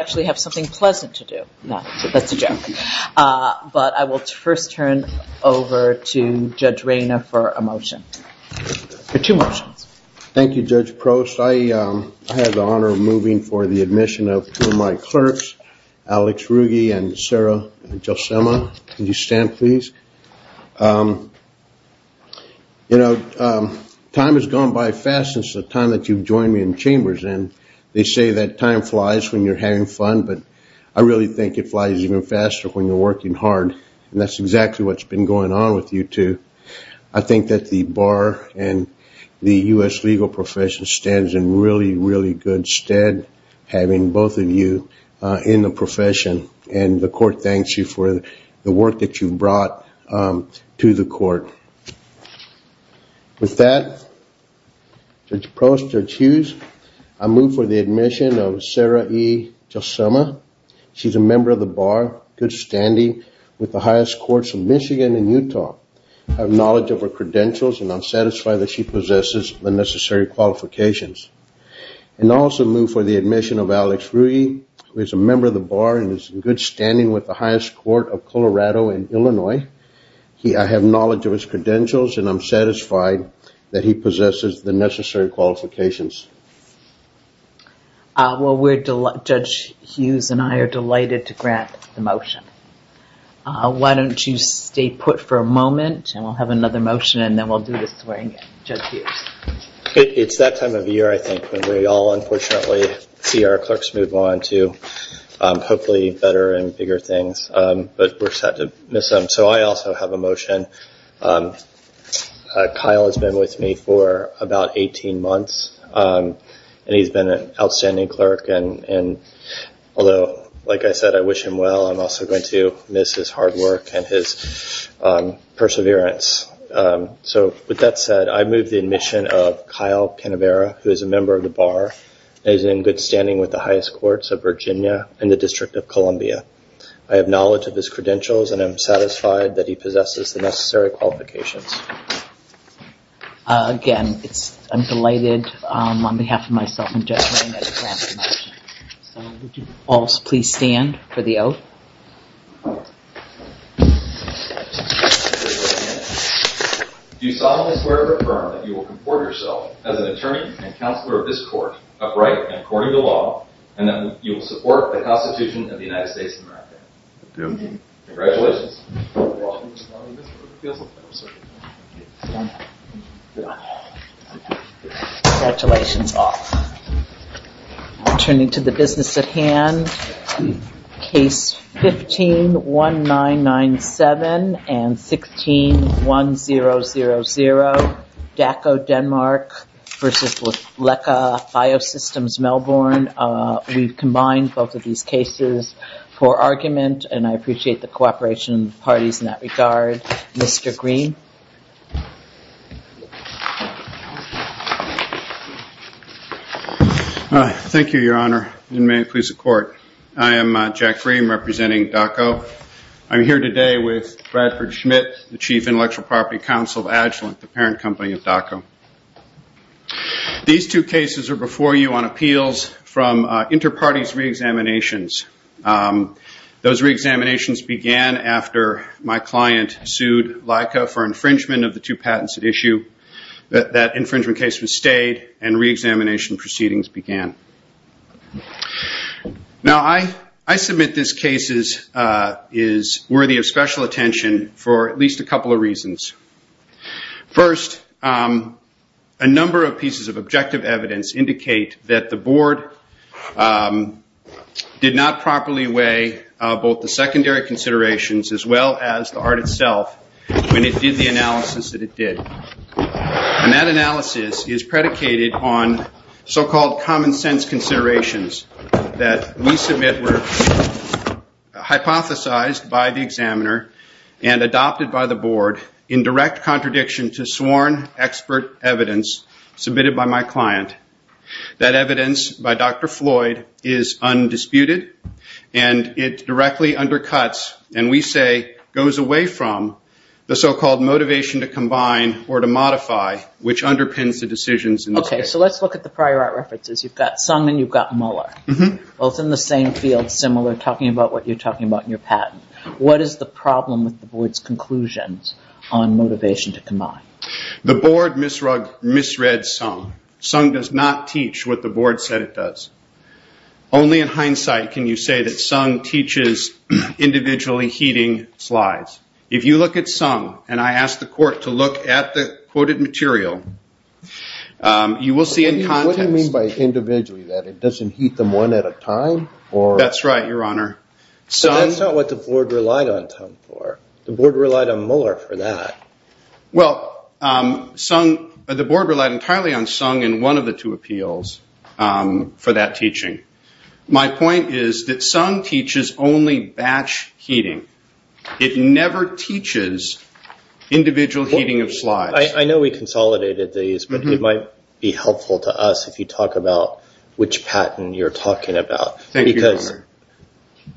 I actually have something pleasant to do. No, that's a joke. But I will first turn over to Judge Reina for a motion, or two motions. Thank you, Judge Prost. I have the honor of moving for the admission of two of my clerks, Alex Ruge and Sarah Gelsema. Can you stand, please? You know, time has gone by fast since the time that you've joined me in chambers, and they say that time flies when you're having fun, but I really think it flies even faster when you're working hard. And that's exactly what's been going on with you two. I think that the bar and the U.S. legal profession stands in really, really good stead, having both of you in the profession. And the court thanks you for the work that you've brought to the court. With that, Judge Prost, Judge Hughes, I move for the admission of Sarah E. Gelsema. She's a member of the bar, good standing, with the highest courts in Michigan and Utah. I have knowledge of her credentials, and I'm satisfied that she possesses the necessary qualifications. And I also move for the admission of Alex Ruge, who is a member of the bar and is in good standing with the highest court of Colorado and Illinois. I have knowledge of his credentials, and I'm satisfied that he possesses the necessary qualifications. Well, Judge Hughes and I are delighted to grant the motion. Why don't you stay put for a moment, and we'll have another motion, and then we'll do the swearing in. Judge Hughes. It's that time of year, I think, when we all unfortunately see our clerks move on to hopefully better and bigger things. But we're sad to miss them, so I also have a motion. Kyle has been with me for about 18 months, and he's been an outstanding clerk. And although, like I said, I wish him well, I'm also going to miss his hard work and his perseverance. So with that said, I move the admission of Kyle Canavera, who is a member of the bar. He's in good standing with the highest courts of Virginia and the District of Columbia. I have knowledge of his credentials, and I'm satisfied that he possesses the necessary qualifications. Again, I'm delighted on behalf of myself and Judge Wayne to grant the motion. So would you all please stand for the oath? Do you solemnly swear to affirm that you will comport yourself as an attorney and counselor of this court, upright and according to law, and that you will support the Constitution of the United States of America? I do. Congratulations. Congratulations, all. I'll turn it to the business at hand. Case 15-1997 and 16-1000, DACO Denmark versus LECA Biosystems Melbourne. We've combined both of these cases for argument, and I appreciate the cooperation of the parties in that regard. Mr. Green? Thank you, Your Honor, and may it please the Court. I am Jack Green representing DACO. I'm here today with Bradford Schmidt, the Chief Intellectual Property Counsel of Agilent, the parent company of DACO. These two cases are before you on appeals from inter-parties reexaminations. Those reexaminations began after my client sued LECA for infringement of the two patents at issue. That infringement case was stayed, and reexamination proceedings began. Now, I submit this case is worthy of special attention for at least a couple of reasons. First, a number of pieces of objective evidence indicate that the Board did not properly weigh both the secondary considerations, as well as the art itself, when it did the analysis that it did. And that analysis is predicated on so-called common-sense considerations that we submit were hypothesized by the examiner and adopted by the Board in direct contradiction to sworn expert evidence submitted by my client. That evidence by Dr. Floyd is undisputed, and it directly undercuts, and we say goes away from, the so-called motivation to combine or to modify, which underpins the decisions in the case. Okay, so let's look at the prior art references. You've got Sung and you've got Muller, both in the same field similar, talking about what you're talking about in your patent. What is the problem with the Board's conclusions on motivation to combine? The Board misread Sung. Sung does not teach what the Board said it does. Only in hindsight can you say that Sung teaches individually heeding slides. If you look at Sung, and I ask the Court to look at the quoted material, you will see in context... What do you mean by individually? That it doesn't heed them one at a time? That's right, Your Honor. So that's not what the Board relied on Sung for. The Board relied on Muller for that. Well, the Board relied entirely on Sung in one of the two appeals for that teaching. My point is that Sung teaches only batch heeding. It never teaches individual heeding of slides. I know we consolidated these, but it might be helpful to us if you talk about which patent you're talking about. Thank you, Your Honor. Because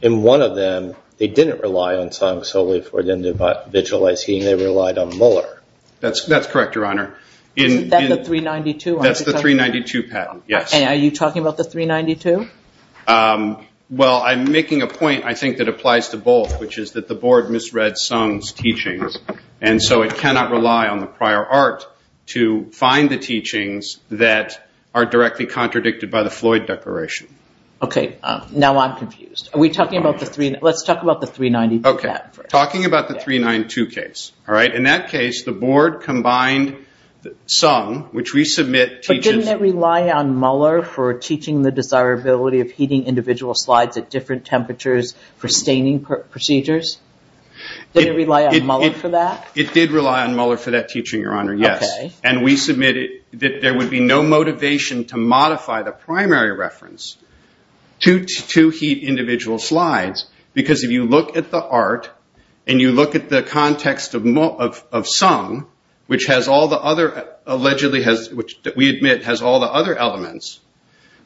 in one of them, they didn't rely on Sung solely for individualized heeding. They relied on Muller. That's correct, Your Honor. And are you talking about the 392? Well, I'm making a point I think that applies to both, which is that the Board misread Sung's teachings. And so it cannot rely on the prior art to find the teachings that are directly contradicted by the Floyd Declaration. Okay, now I'm confused. Let's talk about the 392 patent first. Okay, talking about the 392 case. In that case, the Board combined Sung, which we submit teaches... But didn't it rely on Muller for teaching the desirability of heeding individual slides at different temperatures for staining procedures? Didn't it rely on Muller for that? It did rely on Muller for that teaching, Your Honor, yes. And we submitted that there would be no motivation to modify the primary reference to heed individual slides, because if you look at the art and you look at the context of Sung, which we admit has all the other elements,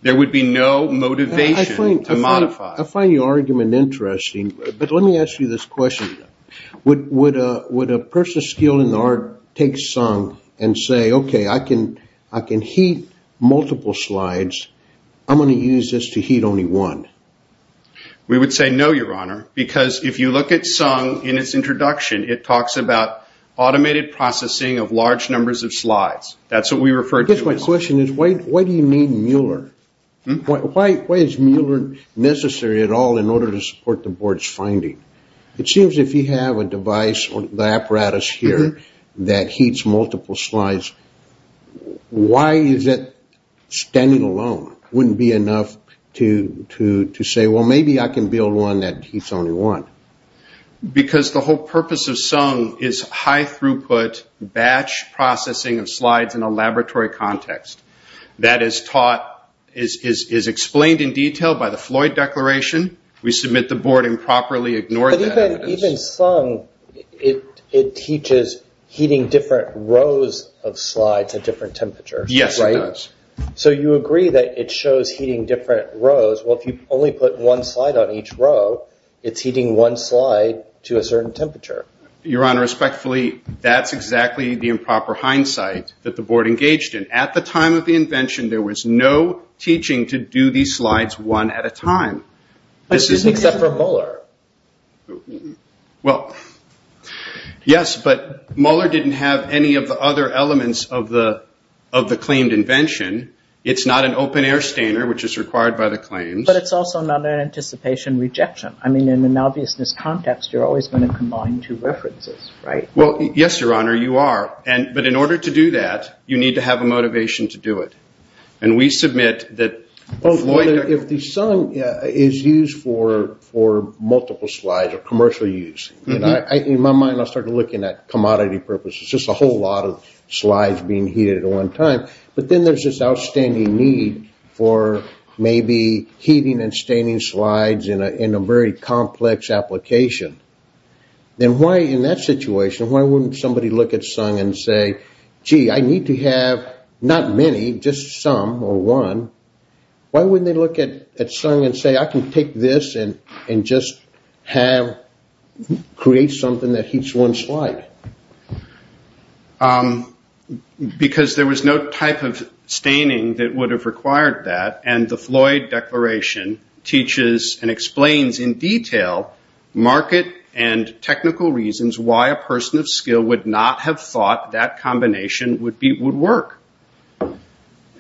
there would be no motivation to modify. I find your argument interesting, but let me ask you this question. Would a person skilled in the art take Sung and say, okay, I can heed multiple slides. I'm going to use this to heed only one. We would say no, Your Honor, because if you look at Sung in its introduction, it talks about automated processing of large numbers of slides. That's what we refer to as... My question is, why do you need Muller? Why is Muller necessary at all in order to support the Board's finding? It seems if you have a device or the apparatus here that heeds multiple slides, why is it standing alone? It wouldn't be enough to say, well, maybe I can build one that heeds only one. Because the whole purpose of Sung is high throughput batch processing of slides in a laboratory context. That is taught, is explained in detail by the Floyd Declaration. We submit the Board improperly ignored that evidence. Even Sung, it teaches heeding different rows of slides at different temperatures. You agree that it shows heeding different rows. If you only put one slide on each row, it's heeding one slide to a certain temperature. Your Honor, respectfully, that's exactly the improper hindsight that the Board engaged in. At the time of the invention, there was no teaching to do these slides one at a time. Except for Muller. Yes, but Muller didn't have any of the other elements of the claimed invention. It's not an open air stainer, which is required by the claims. But it's also not an anticipation rejection. In an obviousness context, you're always going to combine two references. Yes, Your Honor, you are. But in order to do that, you need to have a motivation to do it. If the Sung is used for multiple slides or commercial use, in my mind, I'll start looking at commodity purposes. Just a whole lot of slides being heated at one time. But then there's this outstanding need for maybe heating and staining slides in a very complex application. Then why, in that situation, why wouldn't somebody look at Sung and say, gee, I need to have not many, just some or one. Why wouldn't they look at Sung and say, I can take this and just create something that heats one slide? Because there was no type of staining that would have required that. The Floyd Declaration teaches and explains in detail market and technical reasons why a person of skill would not have thought that combination would work.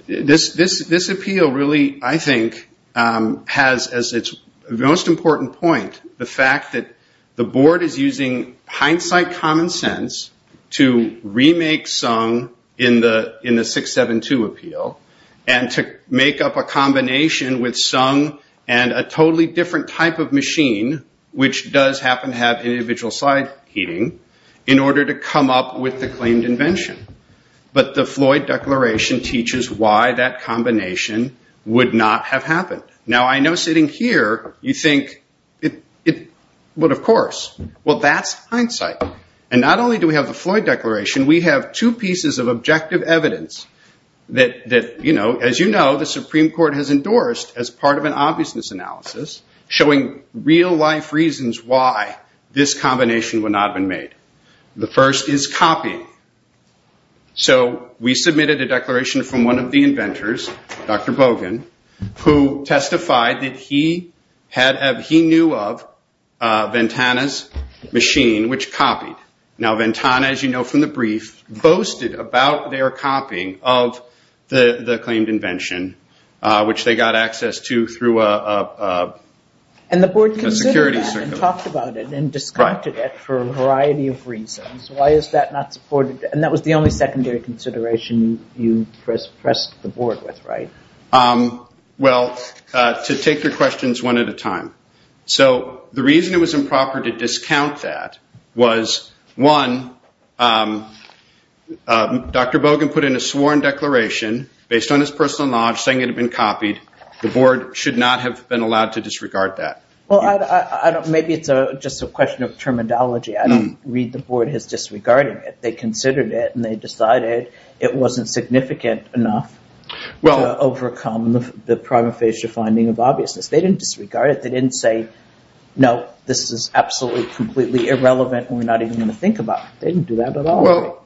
This appeal really, I think, has as its most important point, the fact that the board is using hindsight common sense to remake Sung in the 672 appeal and to make up a combination with Sung and a totally different type of machine, which does happen to have individual slide heating, in order to come up with the claimed invention. But the Floyd Declaration teaches why that combination would not have happened. Now, I know sitting here, you think, but of course, well, that's hindsight. And not only do we have the Floyd Declaration, we have two pieces of objective evidence that, as you know, the Supreme Court has endorsed as part of an obviousness analysis, showing real life reasons why this combination would not have been made. The first is copying. So we submitted a declaration from one of the inventors, Dr. Bogan, who testified that he knew of Ventana's machine, which copied. Now, Ventana, as you know from the brief, boasted about their copying of the claimed invention, which they got access to through a security service. And talked about it and discounted it for a variety of reasons. And that was the only secondary consideration you pressed the board with, right? Well, to take your questions one at a time. So the reason it was improper to discount that was, one, Dr. Bogan put in a sworn declaration, based on his personal knowledge, saying it had been copied. The board should not have been allowed to disregard that. Well, maybe it's just a question of terminology. I don't read the board as disregarding it. They considered it and they decided it wasn't significant enough to overcome the prima facie finding of obviousness. They didn't disregard it. They didn't say, no, this is absolutely, completely irrelevant. We're not even going to think about it. They didn't do that at all.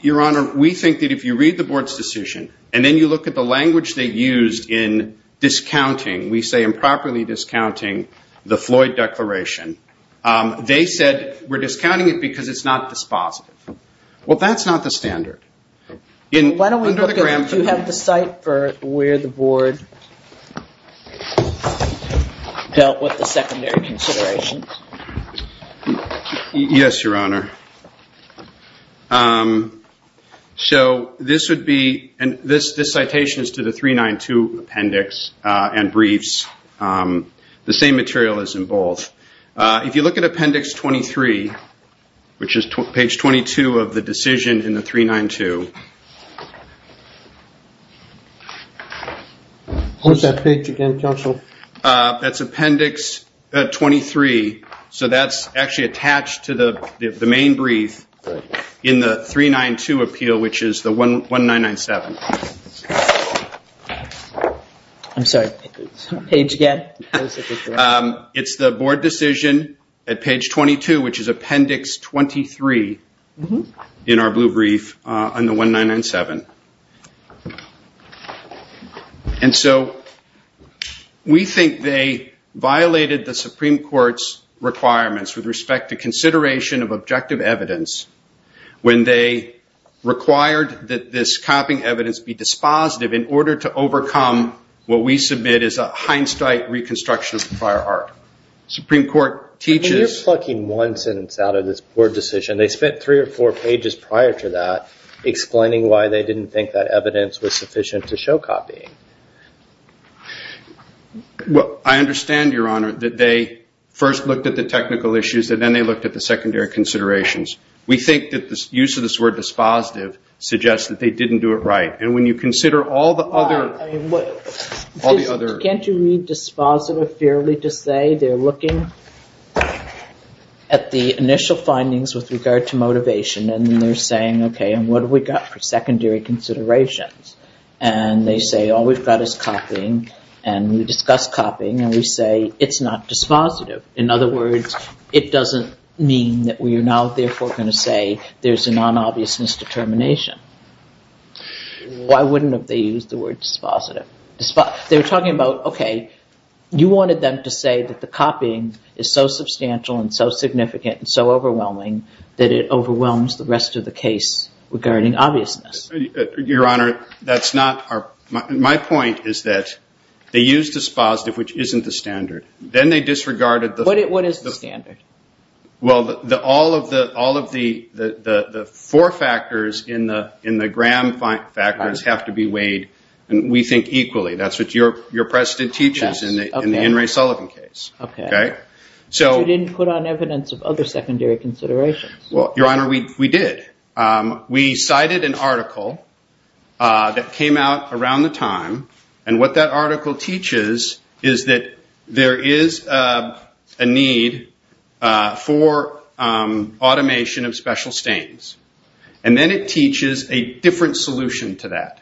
Your Honor, we think that if you read the board's decision, and then you look at the language they used in discounting, we say improperly discounting the Floyd declaration, they said we're discounting it because it's not dispositive. Well, that's not the standard. Why don't we look at, do you have the site for where the board dealt with the secondary consideration? Yes, Your Honor. So this would be, this citation is to the 392 appendix and briefs. The same material is in both. If you look at appendix 23, which is page 22 of the decision in the 392. What was that page again, counsel? That's appendix 23, so that's actually attached to the main brief in the 392 appeal, which is the 1997. I'm sorry, page again? It's the board decision at page 22, which is appendix 23 in our blue brief on the 1997. And so we think they violated the Supreme Court's requirements with respect to consideration of objective evidence, when they required that this copying evidence be dispositive in order to overcome what we submit as a Heinstein reconstruction of the prior art. Supreme Court teaches... That's why they didn't think that evidence was sufficient to show copying. I understand, Your Honor, that they first looked at the technical issues and then they looked at the secondary considerations. We think that the use of this word dispositive suggests that they didn't do it right. Can't you read dispositive fairly to say they're looking at the initial findings with regard to motivation and they're saying, okay, and what have we got for secondary considerations? And they say all we've got is copying and we discuss copying and we say it's not dispositive. In other words, it doesn't mean that we are now therefore going to say there's a non-obvious misdetermination. Why wouldn't they have used the word dispositive? They were talking about, okay, you wanted them to say that the copying is so substantial and so significant and so overwhelming that it overwhelms the rest of the case regarding obviousness. Your Honor, my point is that they used dispositive, which isn't the standard. What is the standard? Well, all of the four factors in the Graham factors have to be weighed and we think equally. That's what your precedent teaches in the Henry Sullivan case. But you didn't put on evidence of other secondary considerations. Well, Your Honor, we did. We cited an article that came out around the time and what that article teaches is that there is a need to modify SUNG for automation of special stains. And then it teaches a different solution to that.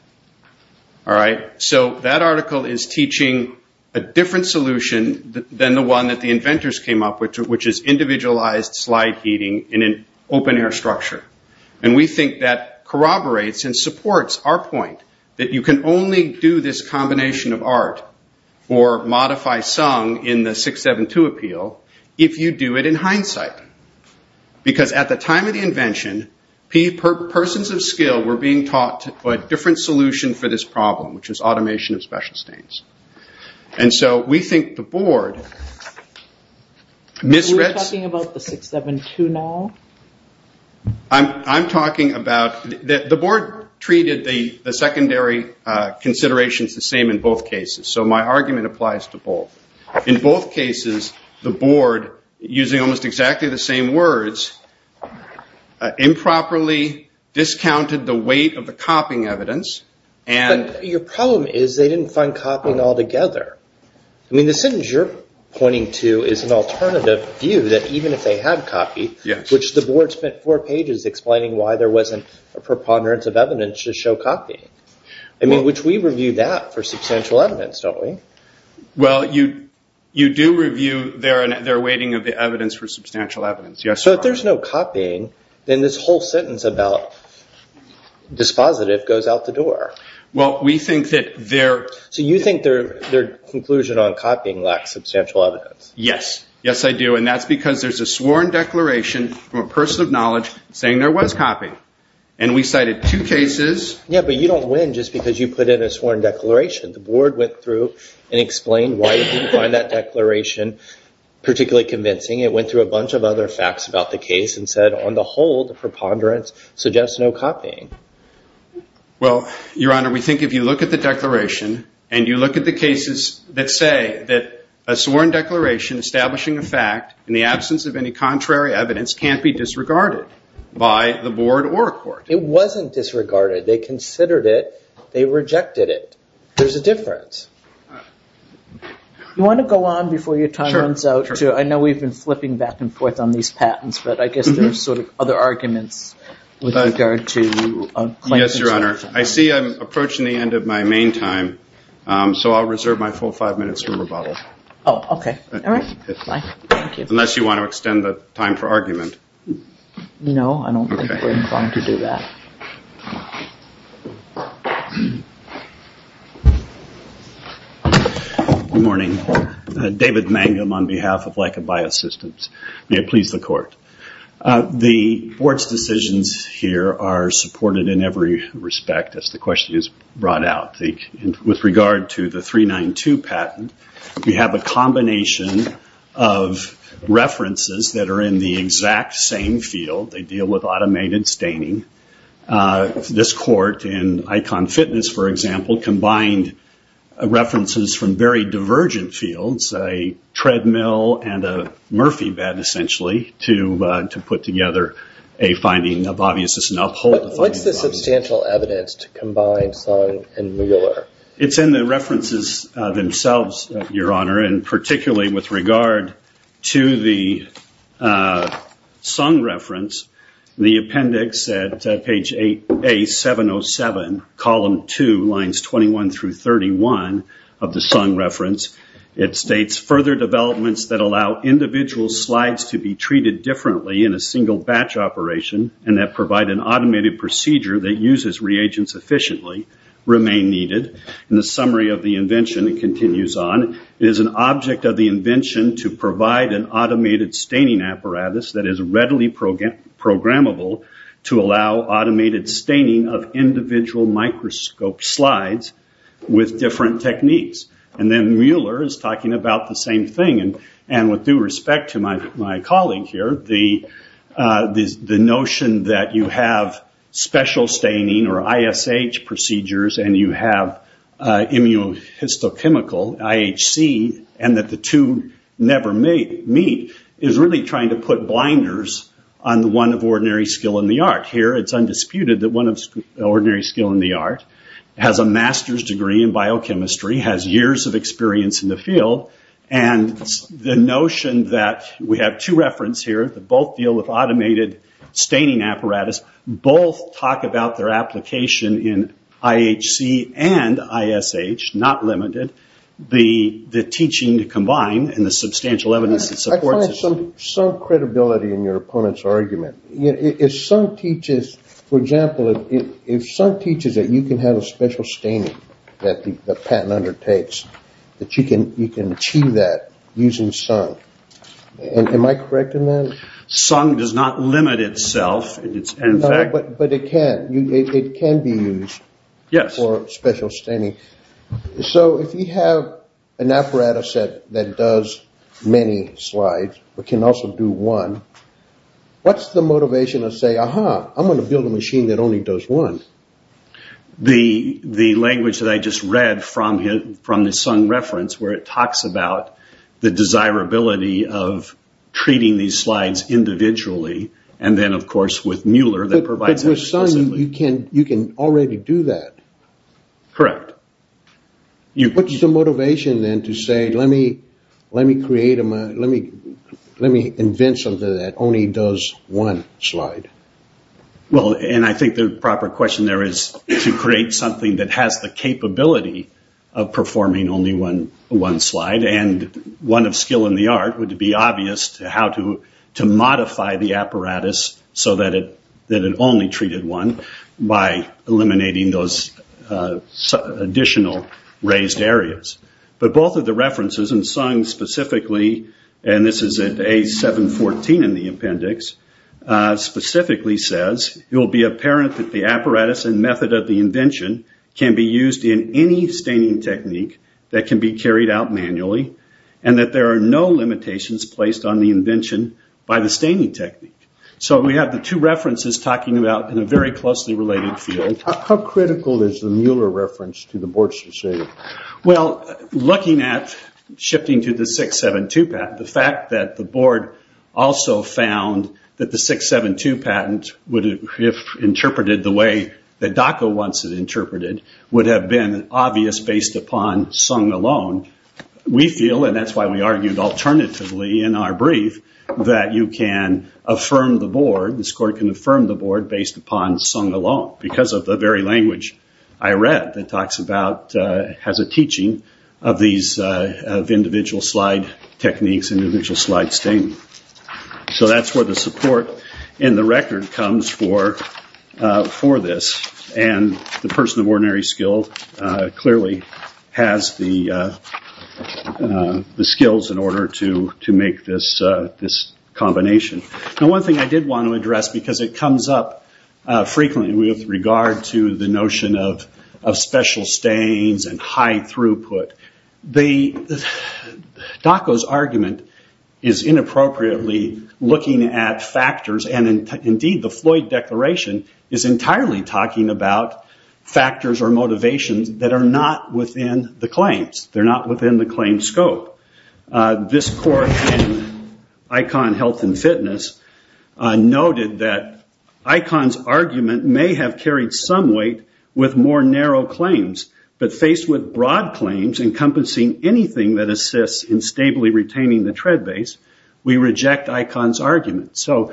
So that article is teaching a different solution than the one that the inventors came up with, which is individualized slide heating in an open air structure. And we think that corroborates and supports our point that you can only do this combination of art or modify SUNG in the 672 appeal if you do it in an open air structure. In hindsight, because at the time of the invention, persons of skill were being taught a different solution for this problem, which is automation of special stains. And so we think the board... The board treated the secondary considerations the same in both cases, so my argument applies to both. In both cases, the board, using almost exactly the same words, improperly discounted the weight of the copying evidence. But your problem is they didn't find copying altogether. I mean, the sentence you're pointing to is an alternative view that even if they had copy, which the board spent four pages explaining why there wasn't a preponderance of evidence to show copying. I mean, which we review that for substantial evidence, don't we? Well, you do review their weighting of the evidence for substantial evidence. So if there's no copying, then this whole sentence about dispositive goes out the door. So you think their conclusion on copying lacks substantial evidence? Yes. Yes, I do. And that's because there's a sworn declaration from a person of knowledge saying there was copying. And we cited two cases... Yeah, but you don't win just because you put in a sworn declaration. The board went through and explained why they didn't find that declaration particularly convincing. It went through a bunch of other facts about the case and said, on the whole, the preponderance suggests no copying. Well, Your Honor, we think if you look at the declaration and you look at the cases that say that a sworn declaration establishing a fact in the absence of any contrary evidence can't be disregarded by the board or a court. It wasn't disregarded. They considered it. They rejected it. There's a difference. You want to go on before your time runs out? I know we've been flipping back and forth on these patents, but I guess there are sort of other arguments with regard to... Yes, Your Honor. I see I'm approaching the end of my main time, so I'll reserve my full five minutes for rebuttal. Unless you want to extend the time for argument. No, I don't think we're going to do that. Good morning. David Mangum on behalf of Leica Biosystems. May it please the court. The board's decisions here are supported in every respect, as the question is brought out. With regard to the 392 patent, we have a combination of references that are in the exact same document. They deal with automated staining. This court in Icon Fitness, for example, combined references from very divergent fields, a treadmill and a Murphy bed, essentially, to put together a finding of obviousness and uphold the finding of obviousness. What's the substantial evidence to combine Sung and Mueller? It's in the references themselves, Your Honor, and particularly with regard to the Sung reference, the appendix at page 8A707, column 2, lines 21 through 31 of the Sung reference. It states, further developments that allow individual slides to be treated differently in a single batch operation, and that provide an automated procedure that uses reagents efficiently, remain needed. In the summary of the invention, it continues on, it is an object of the invention to provide an automated staining apparatus that is readily programmable to allow automated staining of individual microscope slides with different techniques. Then Mueller is talking about the same thing. With due respect to my colleague here, the notion that you have special staining or ISH procedures, and you have immunohistochemical, IHC, and that the two never meet, is really trying to put blinders on the one of ordinary skill in the art. Here, it's undisputed that one of ordinary skill in the art has a master's degree in biochemistry, has years of experience in the field, and the notion that we have two reference here, that both deal with automated staining apparatus, both talk about their application in IHC and ISH, not limited, the teaching to combine, and the substantial evidence that supports it. I find some credibility in your opponent's argument. If some teaches, for example, if some teaches that you can have a special staining that the patent undertakes, that you can achieve that using some, am I correct in that? Some does not limit itself. But it can be used for special staining. So if you have an apparatus that does many slides, but can also do one, what's the motivation to say, aha, I'm going to build a machine that only does one? The language that I just read from the Sun reference, where it talks about the desirability of treating these slides individually, and then, of course, with Mueller that provides that exclusively. But with Sun, you can already do that. Correct. What's the motivation then to say, let me invent something that only does one slide? Well, and I think the proper question there is to create something that has the capability of performing only one slide, and one of skill in the art would be obvious to how to modify the apparatus so that it only treated one by eliminating those additional raised areas. But both of the references, and Sun specifically, and this is at A714 in the appendix, specifically says, it will be apparent that the apparatus and method of the invention can be used in any staining technique that can be carried out manually, and that there are no limitations placed on the invention by the staining technique. So we have the two references talking about in a very closely related field. How critical is the Mueller reference to the board's decision? Well, looking at shifting to the 672 patent, the fact that the board also found that the 672 patent, if interpreted the way that DACA wants it interpreted, would have been obvious based upon Sun alone. We feel, and that's why we argued alternatively in our brief, that you can affirm the board, based upon Sun alone, because of the very language I read that talks about, has a teaching of these individual slide techniques, individual slide stain. So that's where the support in the record comes for this, and the person of ordinary skill clearly has the skills in order to make this combination. Now one thing I did want to address, because it comes up frequently with regard to the notion of special stains and high throughput. DACA's argument is inappropriately looking at factors, and indeed the Floyd Declaration is entirely talking about factors or motivations that are not within the claims. They're not within the claim scope. This court in ICON Health and Fitness noted that ICON's argument may have carried some weight with more narrow claims, but faced with broad claims encompassing anything that assists in stably retaining the tread base, we reject ICON's argument. So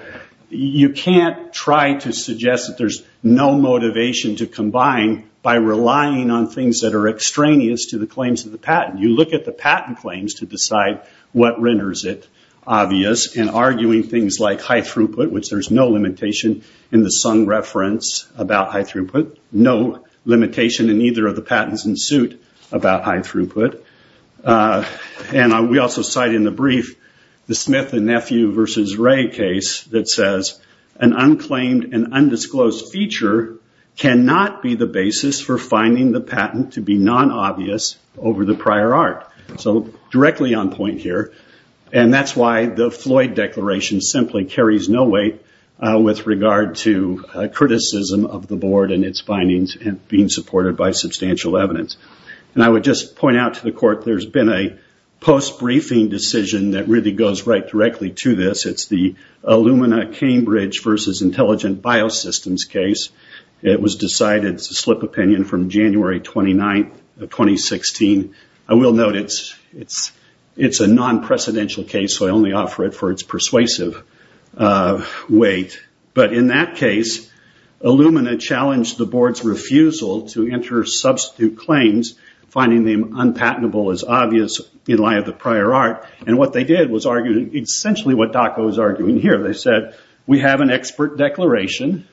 you can't try to suggest that there's no motivation to combine by relying on things that are extraneous to the claims of the patent. You look at the patent claims to decide what renders it obvious, and arguing things like high throughput, which there's no limitation in the sung reference about high throughput, no limitation in either of the patents in suit about high throughput. We also cite in the brief the Smith and Nephew versus Ray case that says, an unclaimed and undisclosed feature cannot be the basis for finding the patent to be non-obvious over the prior art. So directly on point here, and that's why the Floyd Declaration simply carries no weight with regard to criticism of the board and its findings being supported by substantial evidence. And I would just point out to the court there's been a post-briefing decision that really goes right directly to this. It's the Illumina Cambridge versus Intelligent Biosystems case. It was decided, it's a slip opinion, from January 29, 2016. I will note it's a non-precedential case, so I only offer it for its persuasive weight. But in that case, Illumina challenged the board's refusal to enter substitute claims, finding the unpatentable as obvious in light of the prior art. And what they did was argue, essentially what DACA was arguing here. They said, we have an expert declaration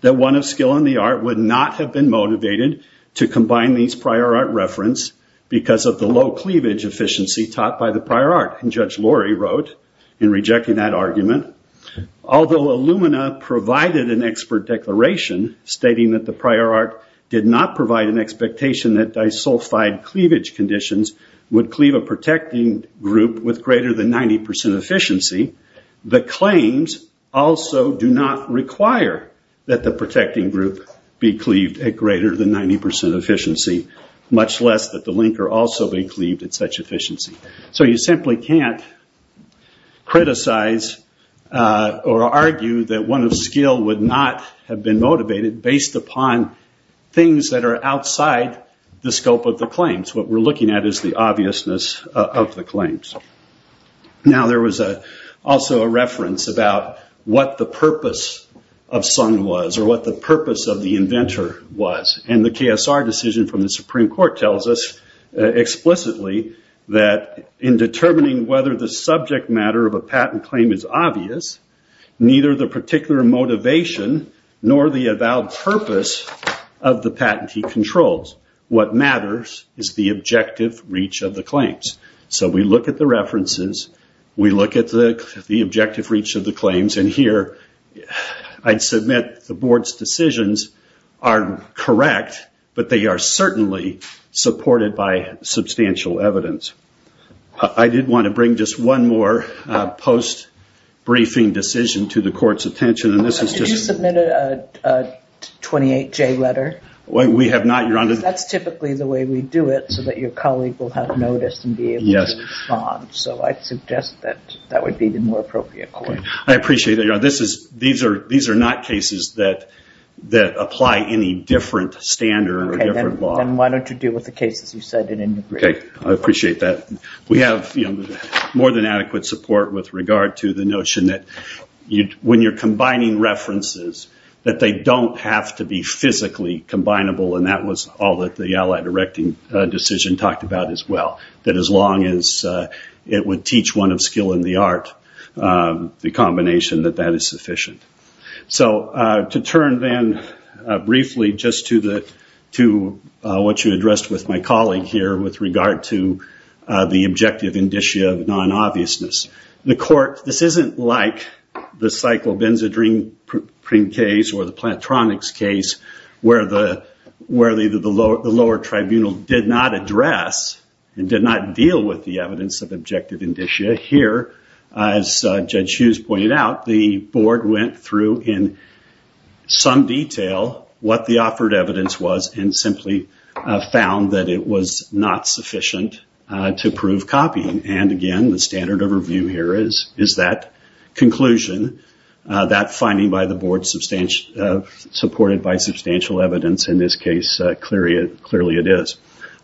that one of skill in the art would not have been motivated to combine these prior art reference because of the low cleavage efficiency taught by the prior art. And Judge Lori wrote in rejecting that argument, although Illumina provided an expert declaration stating that the prior art did not provide an expectation that disulfide cleavage conditions would cleave a protecting group with greater than 90% efficiency, the claims also do not require that the protecting group be cleaved at greater than 90% efficiency, much less that the linker also be cleaved at such efficiency. So you simply can't criticize or argue that one of skill would not have been motivated based upon things that are outside the scope of the claims. What we're looking at is the obviousness of the claims. Now there was also a reference about what the purpose of Sun was, or what the purpose of the inventor was. And the KSR decision from the Supreme Court tells us explicitly that in determining whether the subject matter of a patent claim is obvious, neither the particular motivation nor the about purpose of the patent he controls. What matters is the objective reach of the claims. So we look at the references, we look at the objective reach of the claims, and here I'd submit the Board's decisions are correct, but they are certainly supported by substantial evidence. I did want to bring just one more post-briefing decision to the Court's attention. Did you submit a 28J letter? That's typically the way we do it, so that your colleague will have noticed and be able to respond. So I suggest that that would be the more appropriate court. These are not cases that apply any different standard or different law. Then why don't you deal with the cases you said in your brief? Okay, I appreciate that. We have more than adequate support with regard to the notion that when you're combining references, that they don't have to be physically combinable, and that was all that the Allied Erecting Decision talked about as well. That as long as it would teach one of skill in the art, the combination that that is sufficient. So to turn then briefly just to what you addressed with my colleague here, with regard to the objective indicia of non-obviousness. This isn't like the Cyclobenzadrine case or the Plantronics case, where the lower tribunal did not address and did not deal with the evidence of objective indicia. Here, as Judge Hughes pointed out, the board went through in some detail what the offered evidence was, and simply found that it was not sufficient to prove copying. And again, the standard of review here is that conclusion, that finding by the board supported by substantial evidence in this case, clearly it is.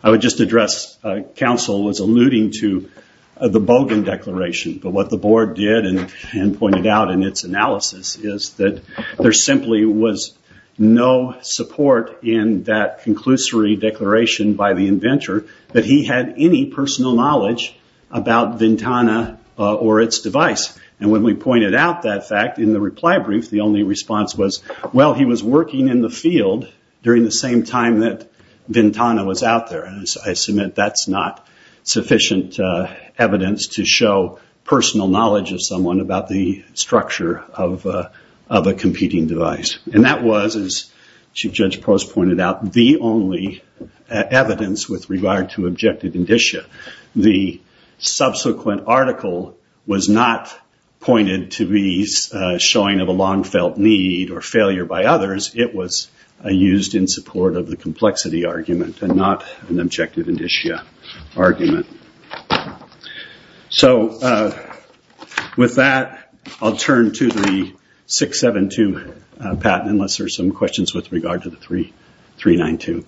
I would just address, counsel was alluding to the Bogan Declaration, but what the board did and pointed out in its analysis is that there simply was no support in that conclusory declaration by the inventor that he had any personal knowledge about Ventana or its device. And when we pointed out that fact in the reply brief, the only response was, well, he was working in the field during the same time that Ventana was out there, and I submit that's not sufficient evidence to show personal knowledge of someone about the structure of a competing device. And that was, as Chief Judge Post pointed out, the only evidence with regard to objective indicia. The subsequent article was not pointed to be showing of a long-felt need or failure by others. It was used in support of the complexity argument and not an objective indicia argument. So with that, I'll turn to the 672, Pat, unless there's some questions with regard to the 392.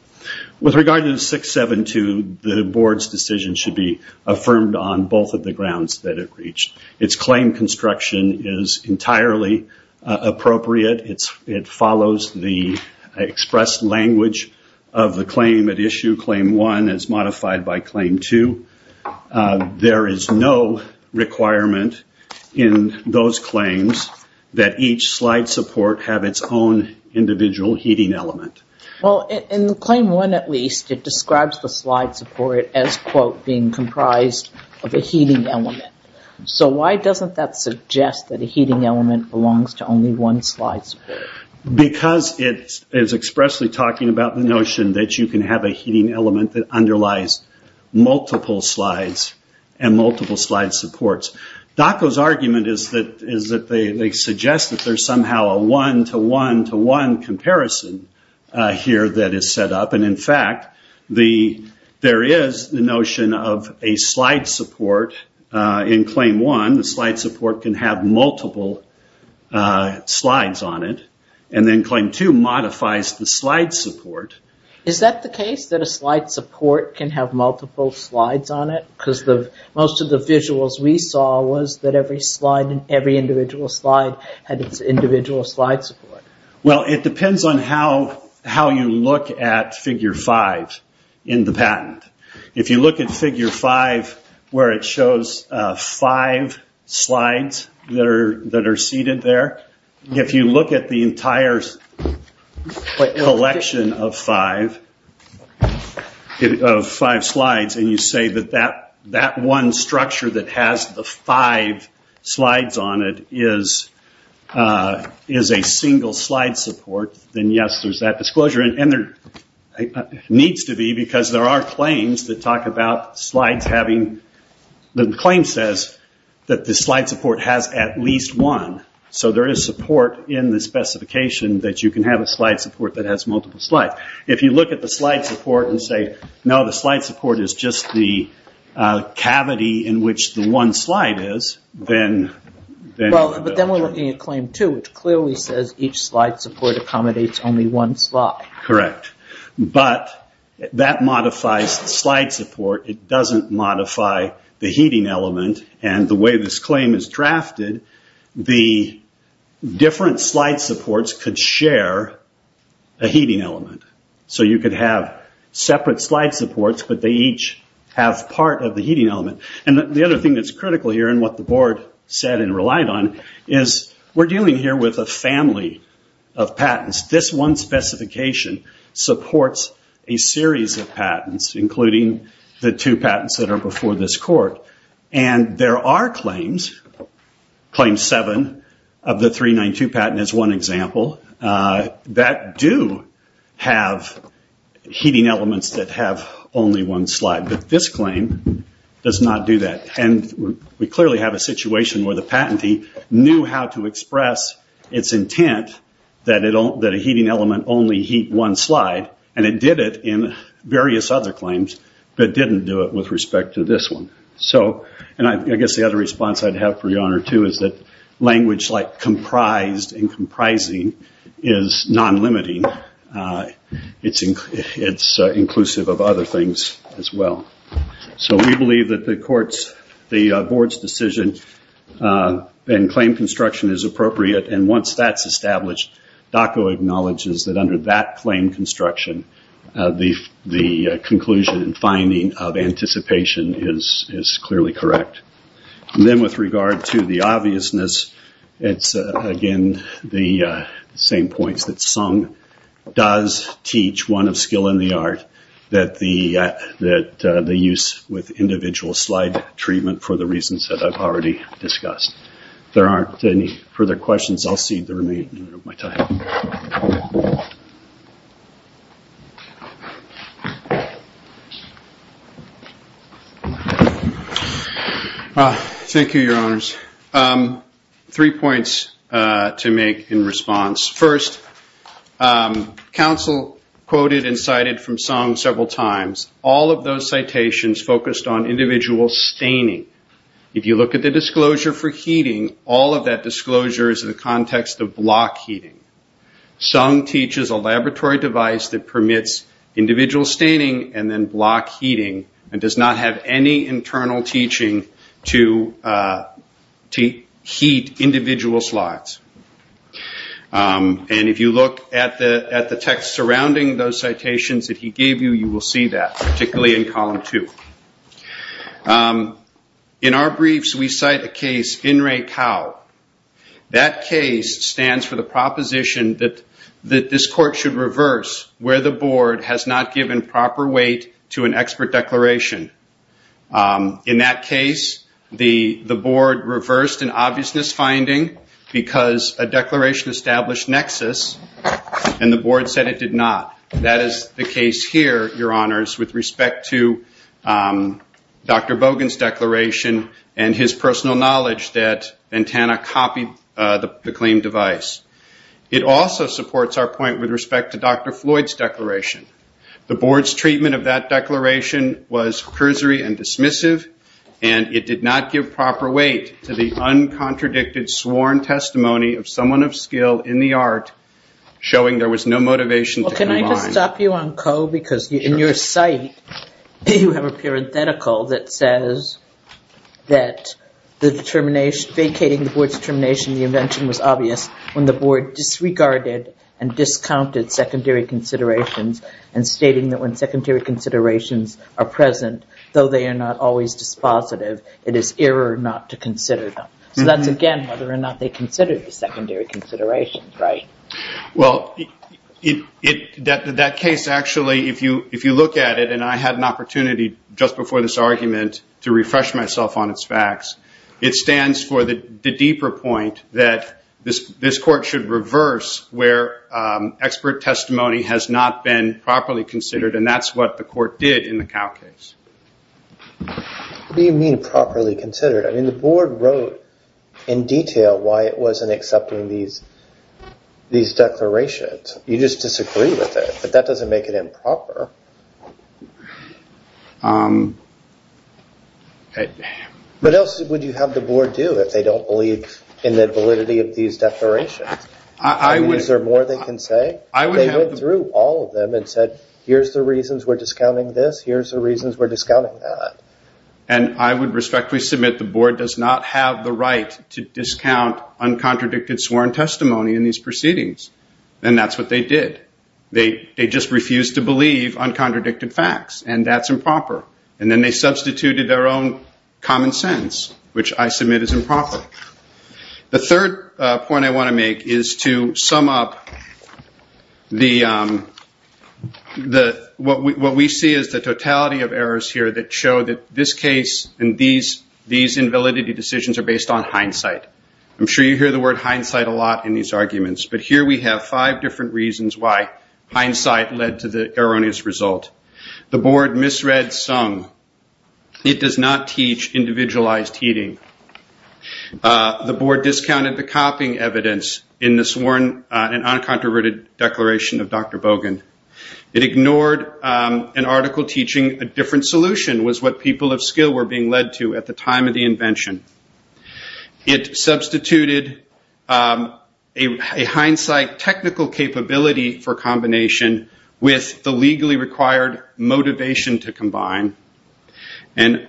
With regard to the 672, the board's decision should be affirmed on both of the grounds that it reached. Its claim construction is entirely appropriate. It follows the expressed language of the claim at issue. Claim one is modified by claim two. There is no requirement in those claims that each slide support have its own individual heating element. Well, in claim one, at least, it describes the slide support as, quote, being comprised of a heating element. So why doesn't that suggest that a heating element belongs to only one slide support? Because it is expressly talking about the notion that you can have a heating element that underlies multiple slides and multiple slide supports. DACA's argument is that they suggest that there's somehow a one-to-one-to-one comparison here that is set up. In fact, there is the notion of a slide support in claim one. The slide support can have multiple slides on it, and then claim two modifies the slide support. Is that the case, that a slide support can have multiple slides on it? Because most of the visuals we saw was that every individual slide had its individual slide support. Well, it depends on how you look at figure five in the patent. If you look at figure five where it shows five slides that are seated there, if you look at the entire selection of five slides and you say that that one structure that has the five slides on it is a single slide support, then yes, there's that disclosure, and there needs to be, because there are claims that talk about slides having... The claim says that the slide support has at least one. So there is support in the specification that you can have a slide support that has multiple slides. If you look at the slide support and say, no, the slide support is just the cavity in which the one slide is, then... But then we're looking at claim two, which clearly says each slide support accommodates only one slide. Correct. But that modifies the slide support. It doesn't modify the heating element. The way this claim is drafted, the different slide supports could share a heating element. So you could have separate slide supports, but they each have part of the heating element. The other thing that's critical here and what the board said and relied on is we're dealing here with a family of patents. This one specification supports a series of patents, including the two patents that are before this court. And there are claims, claim seven of the 392 patent is one example, that do have heating elements that have only one slide. But this claim does not do that. And we clearly have a situation where the patentee knew how to express its intent that a heating element only heat one slide. And it did it in various other claims, but didn't do it with respect to this one. And I guess the other response I'd have for your honor too is that language like comprised and comprising is non-limiting. It's inclusive of other things as well. So we believe that the board's decision and claim construction is appropriate. And once that's established, DOCO acknowledges that under that claim construction, the conclusion and finding of anticipation is clearly correct. And then with regard to the obviousness, it's again the same points that Sung does teach, one of skill in the art, that the use with individual slide treatment for the reasons that I've already discussed. If there aren't any further questions, I'll cede the remaining of my time. Thank you, your honors. Three points to make in response. First, counsel quoted and cited from Sung several times. All of those citations focused on individual staining. If you look at the disclosure for heating, all of that disclosure is in the context of block heating. Sung teaches a laboratory device that permits individual staining and then block heating and does not have any internal teaching to heat individual slides. And if you look at the text surrounding those citations that he gave you, you will see that, particularly in column two. In our briefs, we cite a case, INRAE-COW. That case stands for the proposition that this court should reverse where the board has not given proper weight to an expert declaration. In that case, the board reversed an obviousness finding because a declaration established nexus and the board said it did not. That is the case here, your honors, with respect to Dr. Bogan's declaration and his personal knowledge that Ventana copied the claimed device. It also supports our point with respect to Dr. Floyd's declaration. The board's treatment of that declaration was cursory and dismissive, and it did not give proper weight to the uncontradicted sworn testimony of someone of skill in the art showing there was no motivation to comply. Can I just stop you on, Coe, because in your site, you have a parenthetical that says that the determination, vacating the board's determination, the invention was obvious when the board disregarded and discounted secondary considerations and stating that when secondary considerations are present, though they are not always dispositive, it is error not to consider them. That is, again, whether or not they considered the secondary considerations, right? Well, that case, actually, if you look at it, and I had an opportunity just before this argument to refresh myself on its facts, it stands for the deeper point that this court should reverse where expert testimony has not been properly considered, and that is what the court did in the Cowe case. What do you mean properly considered? I mean, the board wrote in detail why it wasn't accepting these declarations. You just disagree with it, but that doesn't make it improper. What else would you have the board do if they don't believe in the validity of these declarations? Is there more they can say? They went through all of them and said, here's the reasons we're discounting this, here's the reasons we're discounting that. And I would respectfully submit the board does not have the right to discount uncontradicted sworn testimony in these proceedings, and that's what they did. They just refused to believe uncontradicted facts, and that's improper, and then they substituted their own common sense, which I submit is improper. The third point I want to make is to sum up what we see as the totality of errors here that show that this case and these invalidity decisions are based on hindsight. I'm sure you hear the word hindsight a lot in these arguments, but here we have five different reasons why hindsight led to the erroneous result. The board misread some. It does not teach individualized heeding. The board discounted the copying evidence in the sworn and uncontroverted declaration of Dr. Bogan. It ignored an article teaching a different solution was what people of skill were being led to at the time of the invention. It substituted a hindsight technical capability for combination with the legally required motivation to combine, and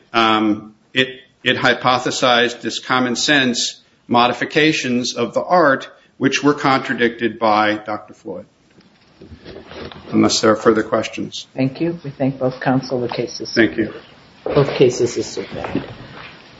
it hypothesized this common sense modifications of the art, which were contradicted by Dr. Floyd. Unless there are further questions.